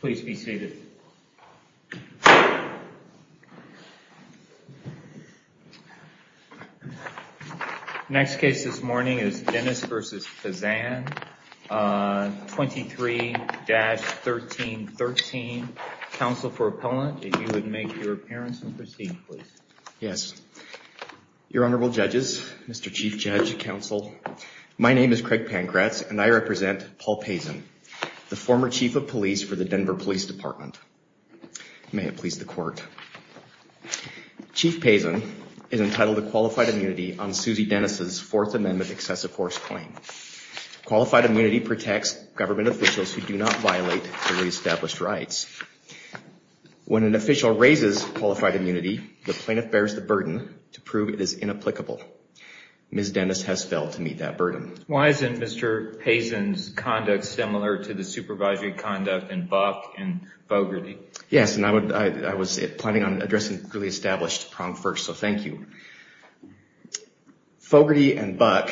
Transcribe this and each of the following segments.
please be seated. Next case this morning is Dennis v. Pazan 23-1313, counsel for appellant, if you would make your appearance and proceed please. Yes, your Honorable Judges, Mr. Chief Judge, counsel, my name is Craig Pankratz and I for the Denver Police Department. May it please the court. Chief Pazan is entitled to qualified immunity on Susie Dennis's Fourth Amendment excessive force claim. Qualified immunity protects government officials who do not violate the re-established rights. When an official raises qualified immunity, the plaintiff bears the burden to prove it is inapplicable. Ms. Dennis has failed to meet that burden. Why isn't Mr. Pazan's conduct similar to the supervisory conduct in Buck and Fogarty? Yes, and I was planning on addressing really established prong first, so thank you. Fogarty and Buck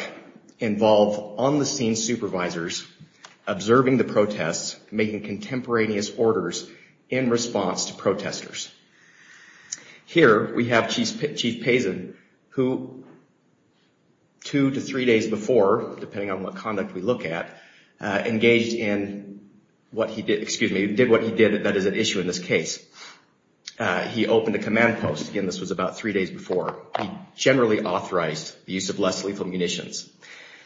involve on-the-scene supervisors observing the protests, making contemporaneous orders in response to protesters. Here we have Chief Pazan, who two to three days before, depending on what conduct we look at, engaged in what he did, excuse me, did what he did that is an issue in this case. He opened a command post, again this was about three days before. He generally authorized the use of less lethal munitions.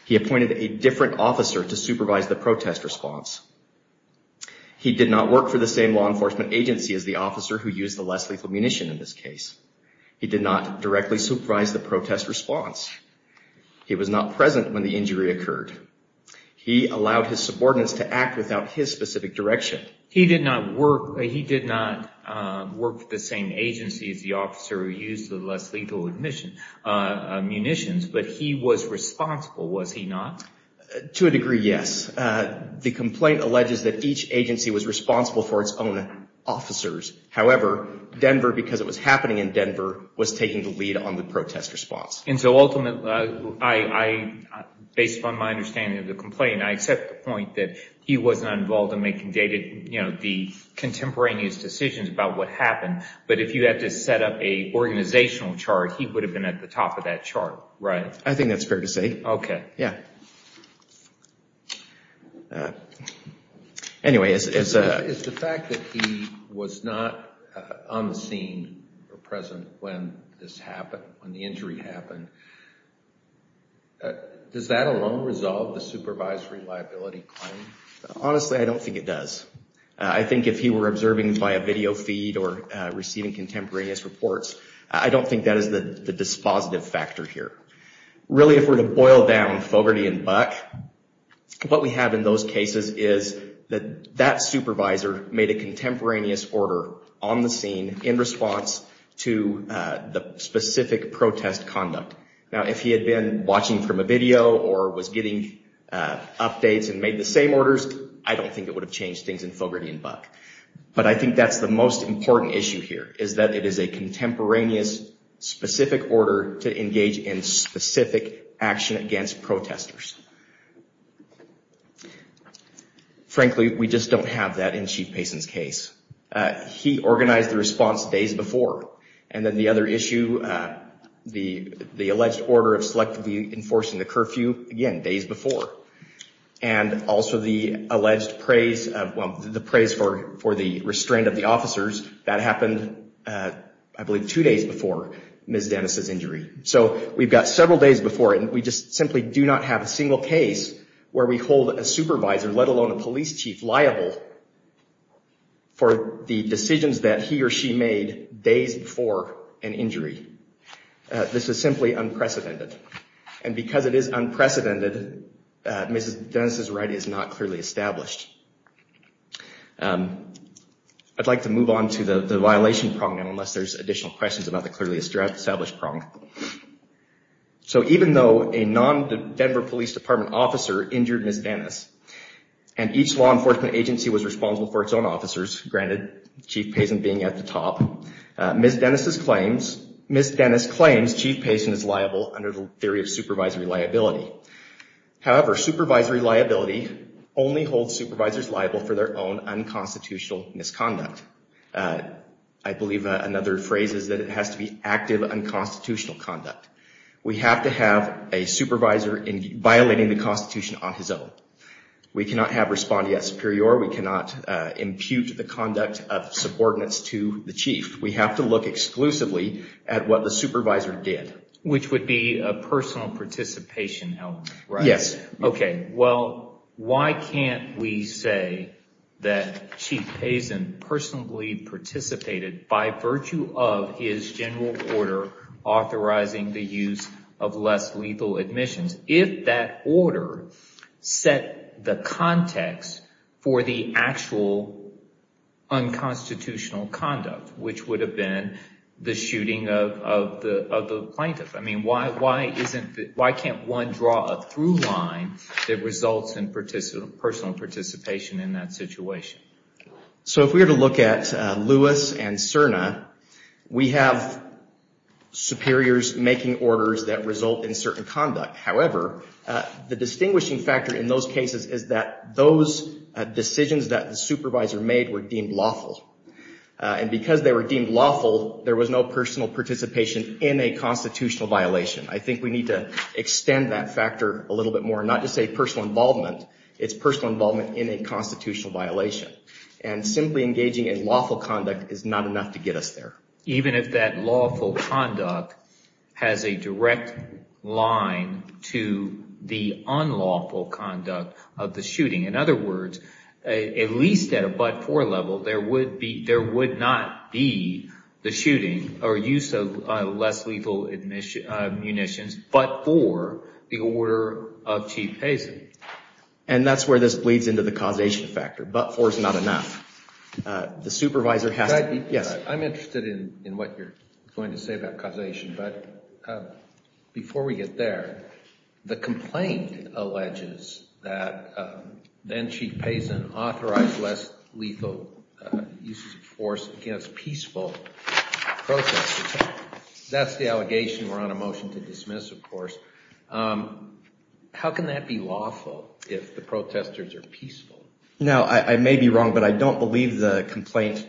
He appointed a different officer to supervise the protest response. He did not work for the same law enforcement agency as the officer who used the less lethal munition in this case. He did not present when the injury occurred. He allowed his subordinates to act without his specific direction. He did not work for the same agency as the officer who used the less lethal munitions, but he was responsible, was he not? To a degree, yes. The complaint alleges that each agency was responsible for its own officers. However, Denver, because it was happening in Denver, was based on my understanding of the complaint, I accept the point that he wasn't involved in making the contemporaneous decisions about what happened, but if you had to set up a organizational chart, he would have been at the top of that chart, right? I think that's fair to say. Okay. Is the fact that he was not on the scene or present when this happened, when the injury happened, does that alone resolve the supervisory liability claim? Honestly, I don't think it does. I think if he were observing by a video feed or receiving contemporaneous reports, I don't think that is the dispositive factor here. Really, if we're to boil down Fogarty and Buck, what we have in those cases is that that supervisor made a contemporaneous order on the scene in specific protest conduct. Now, if he had been watching from a video or was getting updates and made the same orders, I don't think it would have changed things in Fogarty and Buck, but I think that's the most important issue here, is that it is a contemporaneous specific order to engage in specific action against protesters. Frankly, we just don't have that in Chief Payson's case. He organized the response days before. Then the other issue, the alleged order of selectively enforcing the curfew, again, days before. Also, the alleged praise for the restraint of the officers, that happened, I believe, two days before Ms. Dennis's injury. We've got several days before it, and we just simply do not have a single case where we hold a supervisor, let alone a he or she made days before an injury. This is simply unprecedented, and because it is unprecedented, Ms. Dennis's right is not clearly established. I'd like to move on to the violation problem, unless there's additional questions about the clearly established problem. So even though a non-Denver Police Department officer injured Ms. Dennis, and each law enforcement agency was being at the top, Ms. Dennis claims Chief Payson is liable under the theory of supervisory liability. However, supervisory liability only holds supervisors liable for their own unconstitutional misconduct. I believe another phrase is that it has to be active unconstitutional conduct. We have to have a supervisor violating the Constitution on his own. We cannot have subordinates to the chief. We have to look exclusively at what the supervisor did. Which would be a personal participation element, right? Yes. Okay, well, why can't we say that Chief Payson personally participated by virtue of his general order authorizing the use of less lethal admissions, if that order set the context for the actual unconstitutional conduct, which would have been the shooting of the plaintiff? I mean, why can't one draw a through line that results in personal participation in that situation? So if we were to look at Lewis and However, the distinguishing factor in those cases is that those decisions that the supervisor made were deemed lawful. And because they were deemed lawful, there was no personal participation in a constitutional violation. I think we need to extend that factor a little bit more, not just say personal involvement, it's personal involvement in a constitutional violation. And simply engaging in lawful conduct is not enough to get us there. Even if that lawful conduct has a direct line to the unlawful conduct of the shooting. In other words, at least at a but-for level, there would not be the shooting or use of less lethal munitions but-for the order of Chief Payson. And that's where this bleeds into the causation factor. But-for is not enough. The supervisor has to be... I'm interested in what you're going to say about causation, but before we get there, the complaint alleges that then-Chief Payson authorized less lethal use of force against peaceful protesters. That's the allegation we're on a motion to dismiss, of course. How can that be lawful if the protesters are peaceful? Now, I may be wrong, but I don't believe the complaint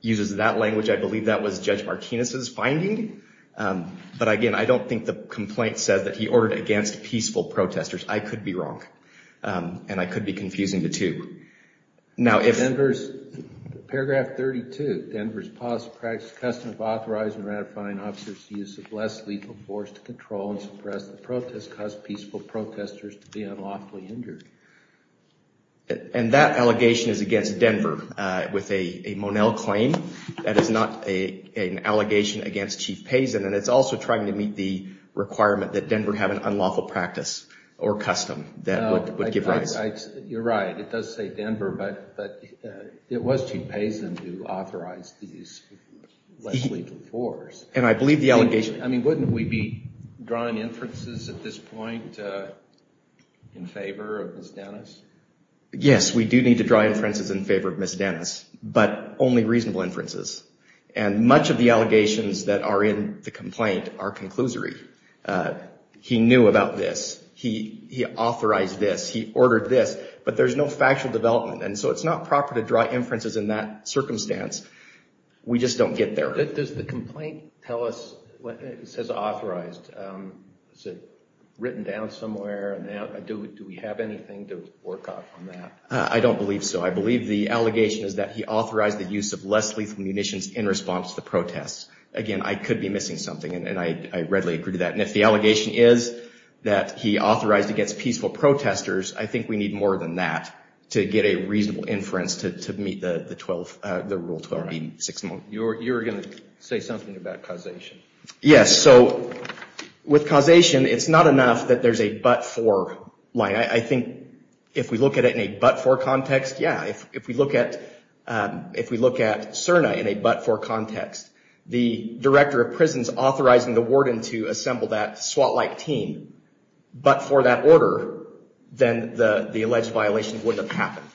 uses that language. I believe that was Judge Martinez's finding. But again, I don't think the complaint said that he ordered against peaceful protesters. I could be wrong, and I could be confusing the two. Now, if... In paragraph 32, Denver's policy practice is custom of authorizing and ratifying officers' use of less lethal force to control and suppress the protest caused peaceful protesters to be unlawfully hindered. And that allegation is against Denver with a Monell claim. That is not an allegation against Chief Payson, and it's also trying to meet the requirement that Denver have an unlawful practice or custom that would give rise. You're right, it does say Denver, but it was Chief Payson who authorized these less lethal force. And I believe the allegation... I mean, wouldn't we be drawing inferences at this point in favor of Ms. Dennis? Yes, we do need to draw inferences in favor of Ms. Dennis, but only reasonable inferences. And much of the allegations that are in the complaint are conclusory. He knew about this. He authorized this. He ordered this. But there's no factual development, and so it's not proper to draw inferences in that circumstance. We just don't get there. Does the complaint tell us... It says authorized. Is it written down somewhere? Do we have anything to work off on that? I don't believe so. I believe the allegation is that he authorized the use of less lethal munitions in response to the protests. Again, I could be missing something, and I readily agree to that. And if the allegation is that he authorized against peaceful protesters, I think we need more than that to get a reasonable inference to meet the You were going to say something about causation. Yes, so with causation, it's not enough that there's a but-for line. I think if we look at it in a but-for context, yeah. If we look at CERNA in a but-for context, the director of prison's authorizing the warden to assemble that SWAT-like team, but for that order, then the alleged violation wouldn't have happened.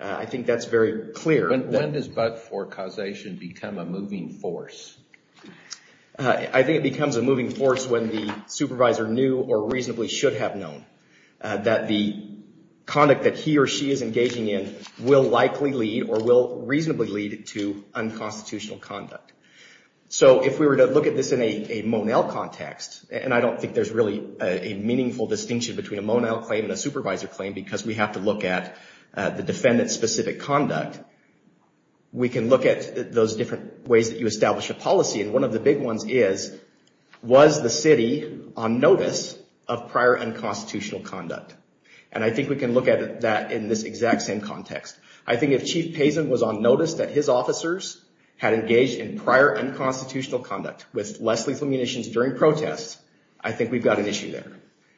I think that's very clear. When does but-for causation become a moving force? I think it becomes a moving force when the supervisor knew or reasonably should have known that the conduct that he or she is engaging in will likely lead or will reasonably lead to unconstitutional conduct. So if we were to look at this in a Monell context, and I don't think there's really a meaningful distinction between a Monell claim and a supervisor claim because we have to look at the defendant-specific conduct, we can look at those different ways that you establish a policy. And one of the big ones is, was the city on notice of prior unconstitutional conduct? And I think we can look at that in this exact same context. I think if Chief Pazin was on notice that his officers had engaged in prior unconstitutional conduct with less lethal munitions during protests, I think we've got an issue there.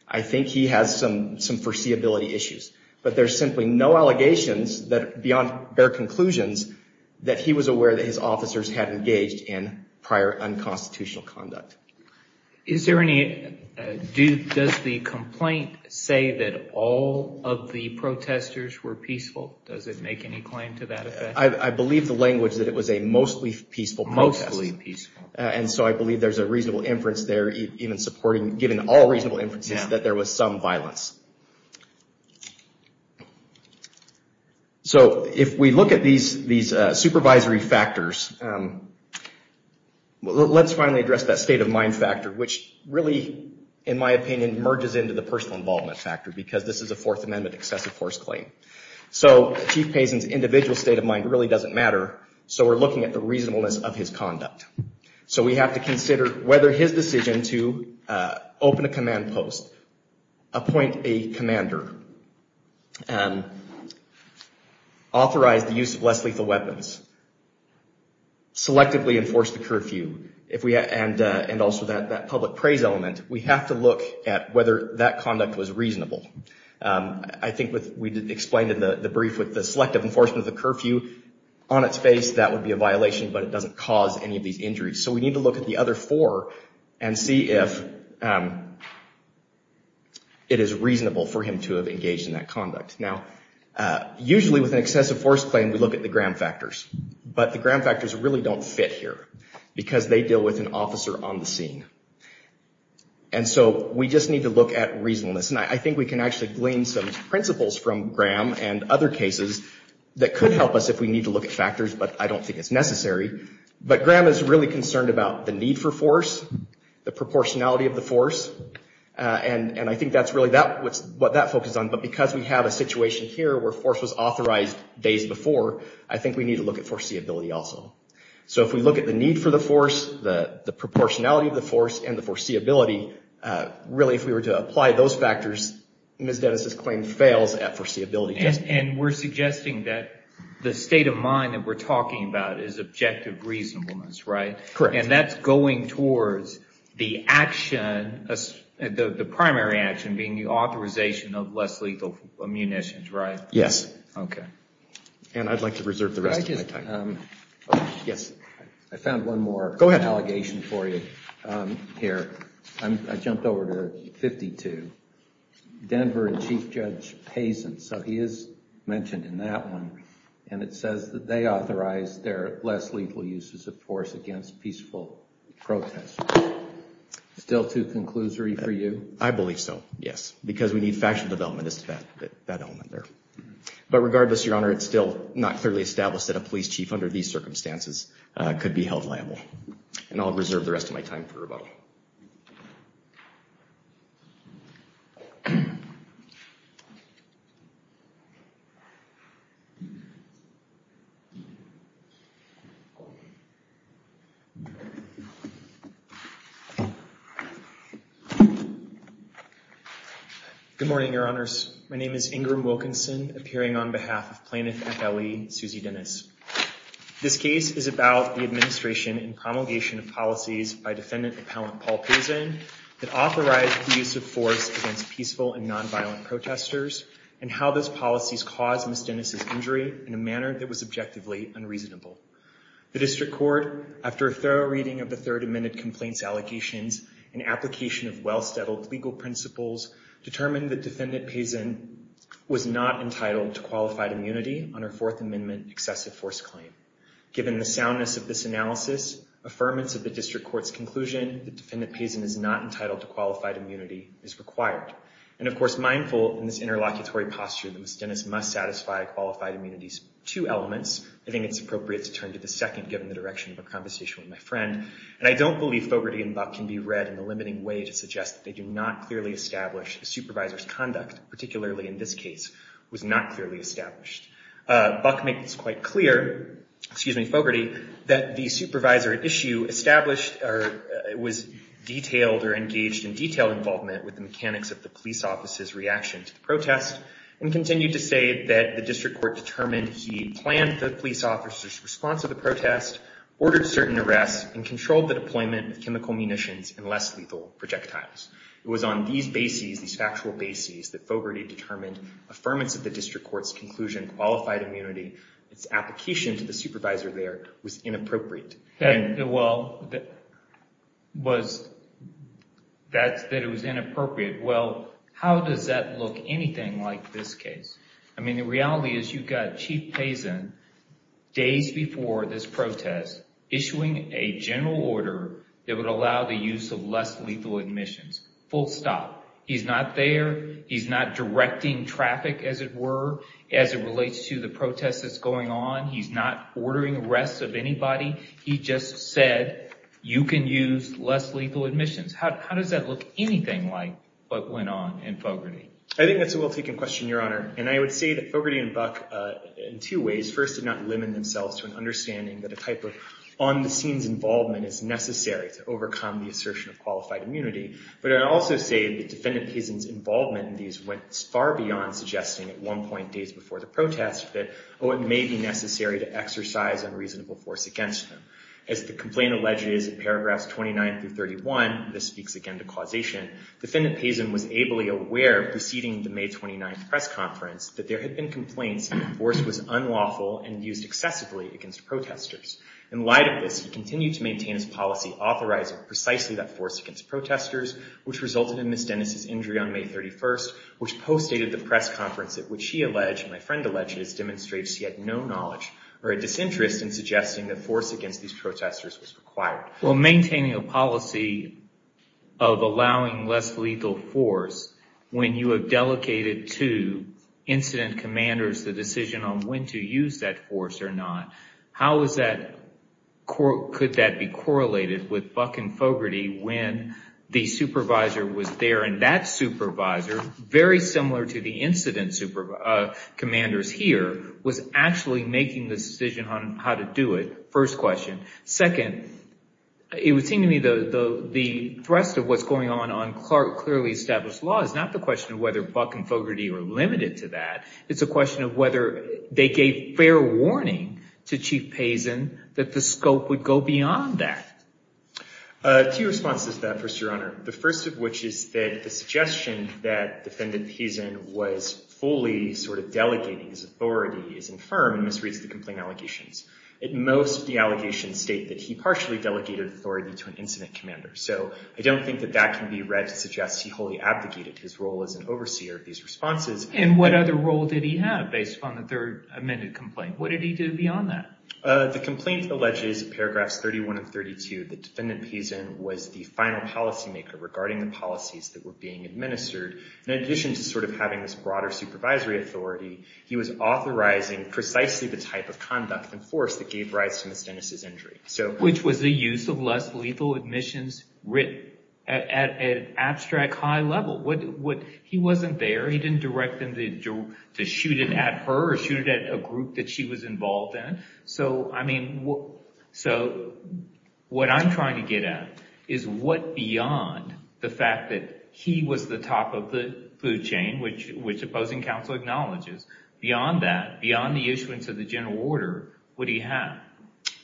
I think he has some foreseeability issues. But there's simply no allegations that, beyond bare conclusions, that he was aware that his officers had engaged in prior unconstitutional conduct. Is there any, does the complaint say that all of the protesters were peaceful? Does it make any claim to that effect? I believe the language that it was a mostly peaceful protest. Mostly peaceful. And so I believe there's a reasonable inference there even supporting, given all reasonable inferences, that there was some violence. So if we look at these supervisory factors, let's finally address that state-of-mind factor, which really, in my opinion, merges into the personal involvement factor because this is a Fourth Amendment excessive force claim. So Chief Pazin's individual state of mind really doesn't matter, so we're looking at the reasonableness of his conduct. So we have to consider whether his decision to open a command post, appoint a commander, authorize the use of less lethal weapons, selectively enforce the curfew, and also that that public praise element, we have to look at whether that conduct was reasonable. I think we explained in the brief with the selective enforcement of the curfew on its face, that would be a violation, but it doesn't cause any of these injuries. So we need to look at the other four and see if it is reasonable for him to have engaged in that conduct. Now, usually with an excessive force claim, we look at the Graham factors, but the Graham factors really don't fit here because they deal with an officer on the scene. And so we just need to look at reasonableness. And I think we can actually glean some principles from Graham and other cases that could help us if we need to look at But Graham is really concerned about the need for force, the proportionality of the force, and I think that's really what that focuses on. But because we have a situation here where force was authorized days before, I think we need to look at foreseeability also. So if we look at the need for the force, the proportionality of the force, and the foreseeability, really if we were to apply those factors, Ms. Dennis's claim fails at foreseeability. And we're suggesting that the state of mind that we're talking about is objective reasonableness, right? Correct. And that's going towards the action, the primary action, being the authorization of less lethal munitions, right? Yes. Okay. And I'd like to reserve the rest of my time. Yes. I found one more allegation for you here. I jumped over to 52. Denver and Chief Judge Hazen, so he is mentioned in that one, and it says that they authorized their less lethal uses of force against peaceful protest. Still too conclusory for you? I believe so, yes, because we need factual development as to that element there. But regardless, Your Honor, it's still not clearly established that a police chief under these circumstances could be held liable. And I'll reserve the rest of my time for rebuttal. Good morning, Your Honors. My name is Ingram Wilkinson, appearing on behalf of Plaintiff FLE Susie Dennis. This case is about the administration and promulgation of policies by defendant appellant Paul Posen that authorized the use of force against peaceful and nonviolent protesters, and how those were used in a manner that was objectively unreasonable. The District Court, after a thorough reading of the Third Amendment complaints allegations and application of well-steadied legal principles, determined that defendant Posen was not entitled to qualified immunity on her Fourth Amendment excessive force claim. Given the soundness of this analysis, affirmance of the District Court's conclusion that defendant Posen is not entitled to qualified immunity is required. And of course, mindful in this interlocutory posture that Ms. Dennis must satisfy qualified immunity's two elements, I think it's appropriate to turn to the second, given the direction of a conversation with my friend. And I don't believe Fogarty and Buck can be read in a limiting way to suggest that they do not clearly establish the supervisor's conduct, particularly in this case, was not clearly established. Buck makes quite clear, excuse me, Fogarty, that the supervisor at issue established or was detailed or engaged in detailed involvement with the mechanics of the and continued to say that the District Court determined he planned the police officer's response to the protest, ordered certain arrests, and controlled the deployment of chemical munitions and less lethal projectiles. It was on these bases, these factual bases, that Fogarty determined affirmance of the District Court's conclusion qualified immunity, its application to the supervisor there, was inappropriate. Well, that it was inappropriate. Well, how does that look anything like this case? I mean, the reality is you've got Chief Payson, days before this protest, issuing a general order that would allow the use of less lethal admissions. Full stop. He's not there. He's not directing traffic, as it were, as it relates to the protest that's going on. He's not ordering arrests of anybody. He just said, you can use less lethal admissions. How does that look anything like what went on in Fogarty? I think that's a well-taken question, Your Honor. And I would say that Fogarty and Buck, in two ways, first did not limit themselves to an understanding that a type of on-the-scenes involvement is necessary to overcome the assertion of qualified immunity. But I'd also say that Defendant Payson's involvement in these went far beyond suggesting at one point, days before the protest, that, oh, it may be necessary to exercise unreasonable force against them. As the complaint alleges in paragraphs 29 through 31, this speaks again to causation, Defendant Payson was ably aware, preceding the May 29th press conference, that there had been complaints that the force was unlawful and used excessively against protesters. In light of this, he continued to maintain his policy authorizing precisely that force against protesters, which resulted in Ms. Dennis's injury on May 31st, which postdated the press conference at which he alleged, and my friend alleged, it demonstrates he had no knowledge or a disinterest in suggesting that force against these protesters was required. Well, maintaining a policy of allowing less lethal force, when you have delegated to incident commanders the decision on when to use that force or not, how is that, could that be correlated with Buck and Fogarty when the supervisor was there and that supervisor, very similar to the incident commanders here, was actually making the decision on how to do it, first question. Second, it would seem to me the thrust of what's going on, on clearly established law, is not the question of whether Buck and Fogarty were limited to that. It's a question of whether they gave fair warning to Chief Payson that the scope would go beyond that. Two responses to that, First Your Honor. The first of which is that the suggestion that Defendant Payson was fully sort of delegating his most of the allegations state that he partially delegated authority to an incident commander. So I don't think that that can be read to suggest he wholly abdicated his role as an overseer of these responses. And what other role did he have based on the third amended complaint? What did he do beyond that? The complaint alleges, paragraphs 31 and 32, that Defendant Payson was the final policy maker regarding the policies that were being administered. In addition to sort of having this broader supervisory authority, he was authorizing precisely the type of conduct and force that gave rise to Ms. Dennis' injury. Which was the use of less lethal admissions written at an abstract high level. He wasn't there. He didn't direct them to shoot it at her or shoot it at a group that she was involved in. So, I mean, so what I'm trying to get at is what beyond the fact that he was the top of the food chain, which Opposing Counsel acknowledges, beyond that,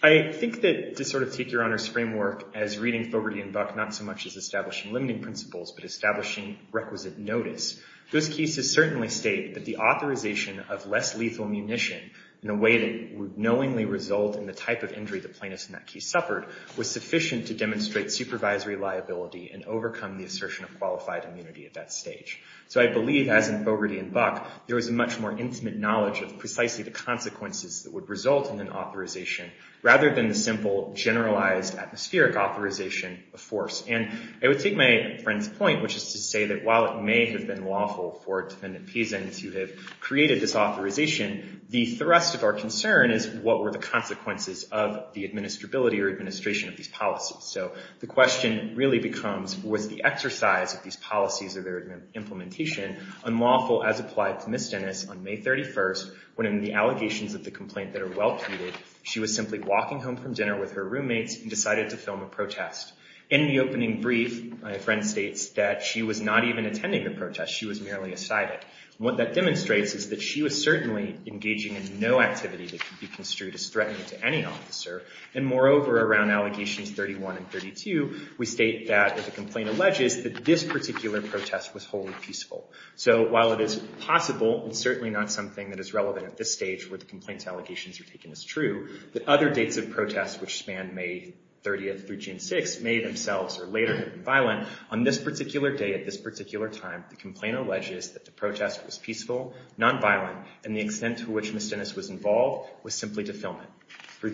I think that to sort of take your Honor's framework as reading Fogarty and Buck, not so much as establishing limiting principles, but establishing requisite notice, those cases certainly state that the authorization of less lethal munition in a way that would knowingly result in the type of injury the plaintiff in that case suffered was sufficient to demonstrate supervisory liability and overcome the assertion of qualified immunity at that stage. So I believe, as in Fogarty and Buck, there was a much more intimate knowledge of precisely the consequences that would result in an authorization, rather than the simple, generalized, atmospheric authorization of force. And I would take my friend's point, which is to say that while it may have been lawful for Defendant Pison to have created this authorization, the thrust of our concern is what were the consequences of the administrability or administration of these policies. So the question really becomes, was the exercise of these policies or their implementation unlawful as applied to Ms. Dennis on May 31st, when in the allegations of the complaint that are well-treated, she was simply walking home from dinner with her roommates and decided to film a protest. In the opening brief, my friend states that she was not even attending the protest. She was merely excited. What that demonstrates is that she was certainly engaging in no activity that could be construed as threatening to any officer. And moreover, around allegations 31 and 32, we state that the complaint alleges that this particular protest was wholly peaceful. So while it is possible, it's certainly not something that is relevant at this stage where the complaint's allegations are taken as true, that other dates of protest, which span May 30th through June 6th, may themselves or later have been violent. On this particular day, at this particular time, the complaint alleges that the protest was peaceful, nonviolent, and the extent to which Ms. Dennis was involved was simply to film it.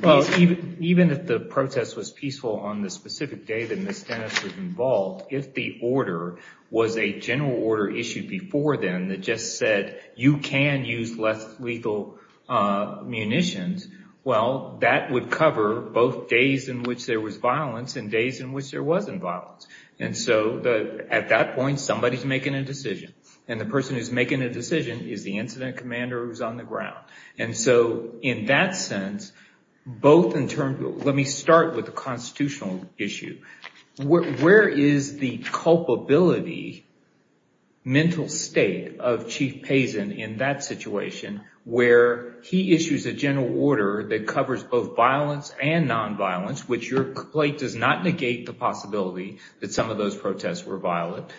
Well, even if the protest was peaceful on the specific day that Ms. Dennis was involved, if the order was a general order issued before then that just said, you can use less lethal munitions, well, that would cover both days in which there was violence and days in which there wasn't violence. And so at that point, somebody's making a decision. And the person who's making a decision is the incident commander who's on the ground. And so in that sense, both in terms of, let me start with the constitutional issue. Where is the culpability mental state of Chief Pazin in that situation where he issues a general order that covers both violence and nonviolence, which your complaint does not negate the possibility that some of those protests were violent.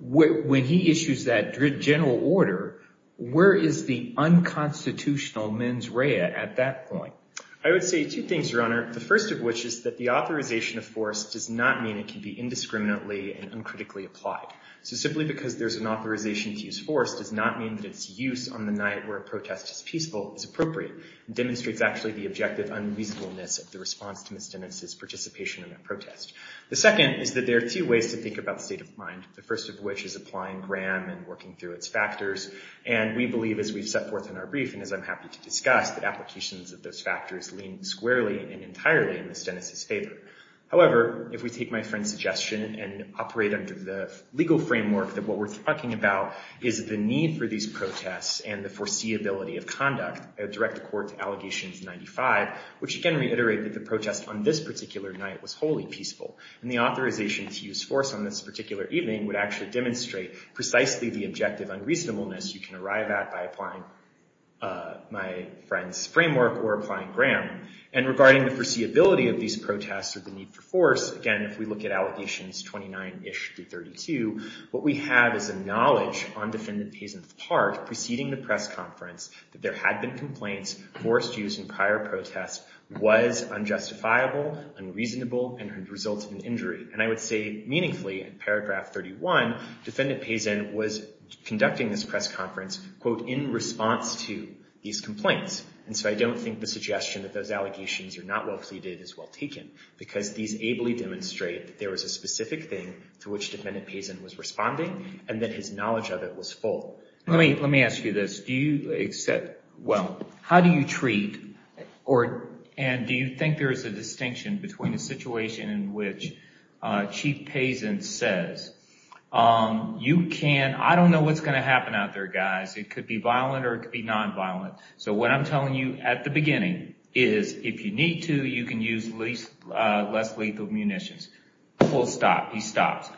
When he issues that general order, where is the unconstitutional mens rea at that point? I would say two things, Your Honor. The first of which is that the authorization of force does not mean it can be indiscriminately and uncritically applied. So simply because there's an authorization to use force does not mean that its use on the night where a protest is peaceful is appropriate. It demonstrates actually the objective unreasonableness of the response to Ms. Dennis' participation in that protest. The second is that there are two ways to think about the state of mind, the first of which is applying Graham and working through its factors. And we believe, as we've set forth in our brief, and as I'm happy to discuss, that applications of those factors lean squarely and entirely in Ms. Dennis' favor. However, if we take my friend's suggestion and operate under the legal framework that what we're talking about is the need for these protests and the foreseeability of conduct, I would direct the court to allegations 95, which again reiterate that the protest on this particular night was wholly peaceful. And the authorization to use force on this particular evening would actually demonstrate precisely the objective unreasonableness you can arrive at by applying my friend's framework or applying Graham. And regarding the foreseeability of these protests or the need for force, again, if we look at allegations 29-ish through 32, what we have is a knowledge on Defendant Pazin's part preceding the press conference that there had been complaints forced use in prior protests was unjustifiable, unreasonable, and had resulted in injury. And I would say meaningfully, in paragraph 31, Defendant Pazin was conducting this press conference, quote, in response to these complaints. And so I don't think the suggestion that those allegations are not well pleaded is well taken, because these ably demonstrate there was a specific thing to which Defendant Pazin was responding, and that his knowledge of it was full. Let me ask you this. Do you accept, well, how do you treat or, and do you think there is a distinction between a situation in which Chief Pazin says, you can, I don't know what's going to happen out there, guys. It could be violent or it could be nonviolent. So what I'm telling you at the beginning is if you need to, you can use less lethal munitions. Full stop. He stops.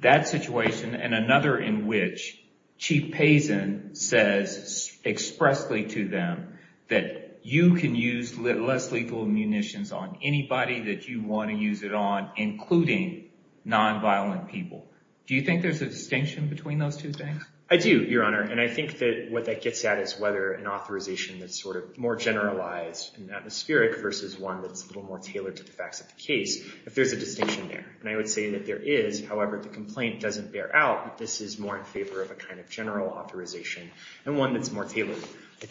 That situation and another in which Chief Pazin says expressly to them that you can use less lethal munitions on anybody that you want to use it on, including nonviolent people. Do you think there's a distinction between those two things? I do, Your Honor. And I think that what that gets at is whether an authorization that's sort of more generalized and this is one that's a little more tailored to the facts of the case, if there's a distinction there. And I would say that there is. However, the complaint doesn't bear out that this is more in favor of a kind of general authorization and one that's more tailored.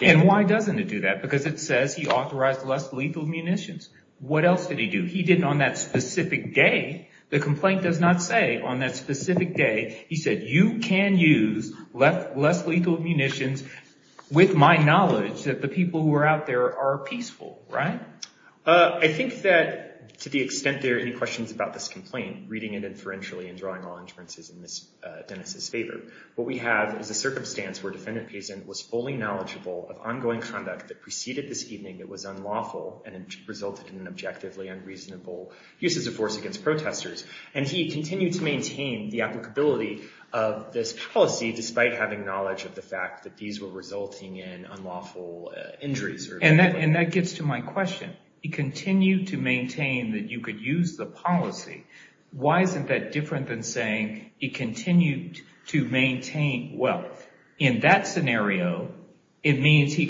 And why doesn't it do that? Because it says he authorized less lethal munitions. What else did he do? He didn't on that specific day, the complaint does not say on that specific day, he said, you can use less lethal munitions with my knowledge that the people who are out there are peaceful, right? I think that to the extent there are any questions about this complaint, reading it inferentially and drawing all inferences in Dennis's favor, what we have is a circumstance where Defendant Pazin was fully knowledgeable of ongoing conduct that preceded this evening that was unlawful and resulted in an objectively unreasonable use of force against protesters. And he continued to maintain the applicability of this policy, despite having knowledge of the injuries. And that gets to my question. He continued to maintain that you could use the policy. Why isn't that different than saying he continued to maintain? Well, in that scenario, it means you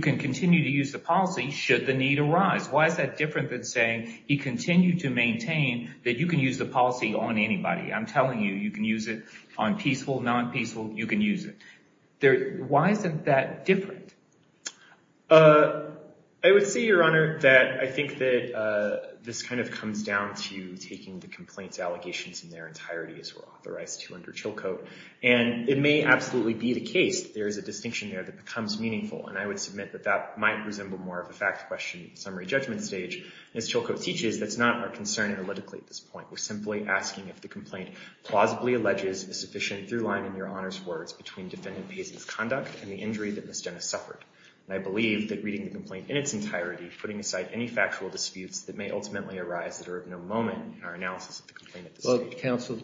can continue to use the policy should the need arise. Why is that different than saying he continued to maintain that you can use the policy on anybody? I'm telling you, you can use it on peaceful, non-peaceful, you can use it. Why isn't that different? I would say, Your Honor, that I think that this kind of comes down to taking the complaint's allegations in their entirety as we're authorized to under Chilcote. And it may absolutely be the case that there is a distinction there that becomes meaningful. And I would submit that that might resemble more of a fact question in the summary judgment stage. As Chilcote teaches, that's not our concern analytically at this point. We're simply asking if the complaint plausibly alleges a sufficient throughline in Your conduct and the injury that Ms. Jena suffered. And I believe that reading the complaint in its entirety, putting aside any factual disputes that may ultimately arise that are of no moment in our analysis of the complaint at this stage. Look, counsel,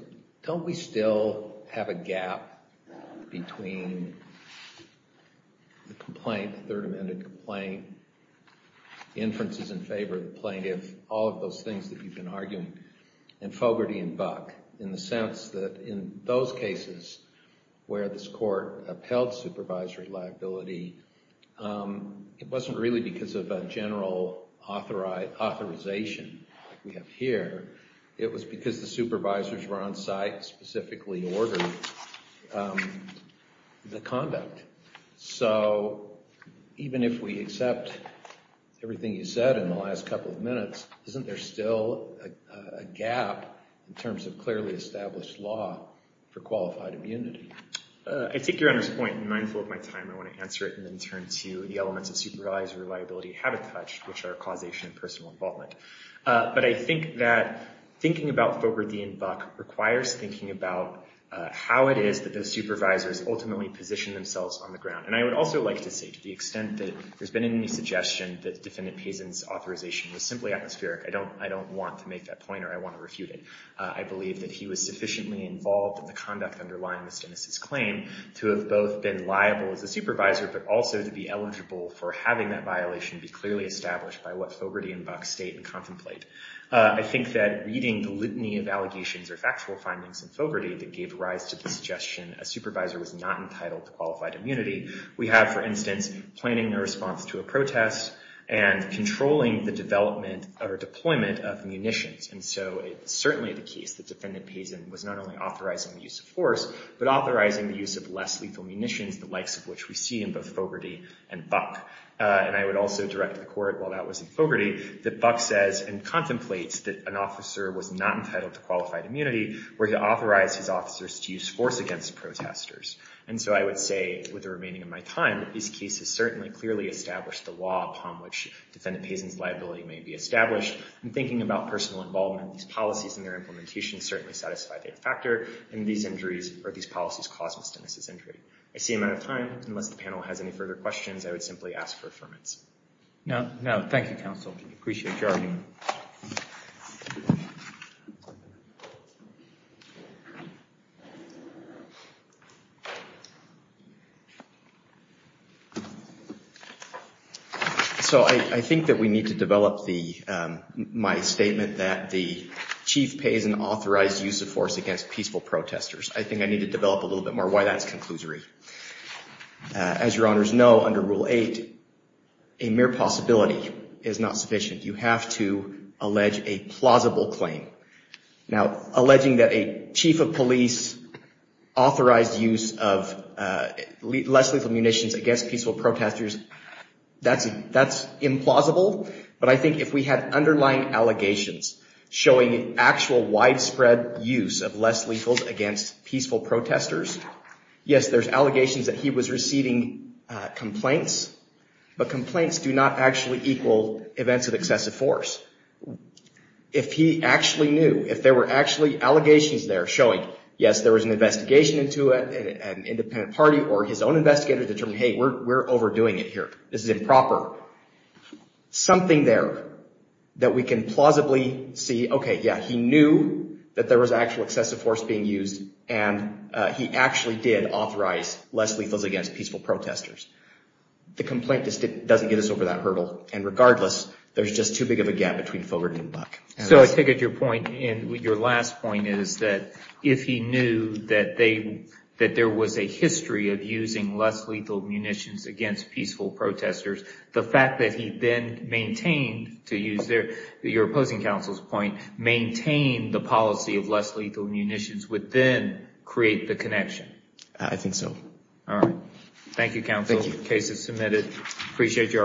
don't we still have a gap between the complaint, the Third Amendment complaint, inferences in favor of the plaintiff, all of those things that you've been arguing, and Fogarty and Buck, in the sense that in those cases where this was a child supervisory liability, it wasn't really because of a general authorization like we have here. It was because the supervisors were on site specifically ordering the conduct. So even if we accept everything you said in the last couple of minutes, isn't there still a gap in terms of clearly established law for qualified immunity? I take Your Honor's point in mindful of my time. I want to answer it and then turn to the elements of supervisory reliability and habitat, which are causation and personal involvement. But I think that thinking about Fogarty and Buck requires thinking about how it is that those supervisors ultimately position themselves on the ground. And I would also like to say to the extent that there's been any suggestion that Defendant Pazin's authorization was simply atmospheric, I don't want to make that point or I want to refute it. I believe that he was sufficiently involved in the conduct underlying this claim to have both been liable as a supervisor, but also to be eligible for having that violation be clearly established by what Fogarty and Buck state and contemplate. I think that reading the litany of allegations or factual findings in Fogarty that gave rise to the suggestion a supervisor was not entitled to qualified immunity. We have, for instance, pointing their response to a protest and controlling the development or deployment of munitions. And so it's certainly the case that Defendant Pazin was not only authorizing the use of force, but authorizing the use of less lethal munitions, the likes of which we see in both Fogarty and Buck. And I would also direct the court, while that was in Fogarty, that Buck says and contemplates that an officer was not entitled to qualified immunity where he authorized his officers to use force against protesters. And so I would say with the remaining of my time, these cases certainly clearly established the law upon which Defendant Pazin's liability may be established. And thinking about personal involvement, these policies and their implementations certainly satisfy that factor. And these policies cause misdemeanors. I see I'm out of time. Unless the panel has any further questions, I would simply ask for affirmation. No, no. Thank you, counsel. Appreciate your argument. So I think that we need to develop my statement that the Chief Pazin authorized use of force against peaceful protesters. I think I need to develop a little bit more why that's conclusory. As your honors know, under Rule 8, a mere possibility is not sufficient. You have to allege a plausible claim. Now, alleging that a chief of police authorized use of less lethal munitions against peaceful protesters, that's implausible. But I think if we had underlying allegations showing actual widespread use of less lethals against peaceful protesters, yes, there's allegations that he was receiving complaints. But complaints do not actually equal events of excessive force. If he actually knew, if there were actually allegations there showing, yes, there was an investigation into it, an independent party, or his own investigator determined, hey, we're overdoing it here. This is improper. Something there that we can plausibly see, okay, yeah, he knew that there was actual excessive force being used, and he actually did authorize less lethals against peaceful protesters. The complaint just doesn't get us over that hurdle. And regardless, there's just too big of a gap between Fogarty and Buck. So I take it your point, and your last point is that if he knew that there was a history of using less lethal munitions against peaceful protesters, the fact that he then maintained, to use your opposing counsel's point, maintained the policy of less lethal munitions would then create the connection. I think so. All right. Thank you, counsel. Case is submitted. Appreciate your arguments.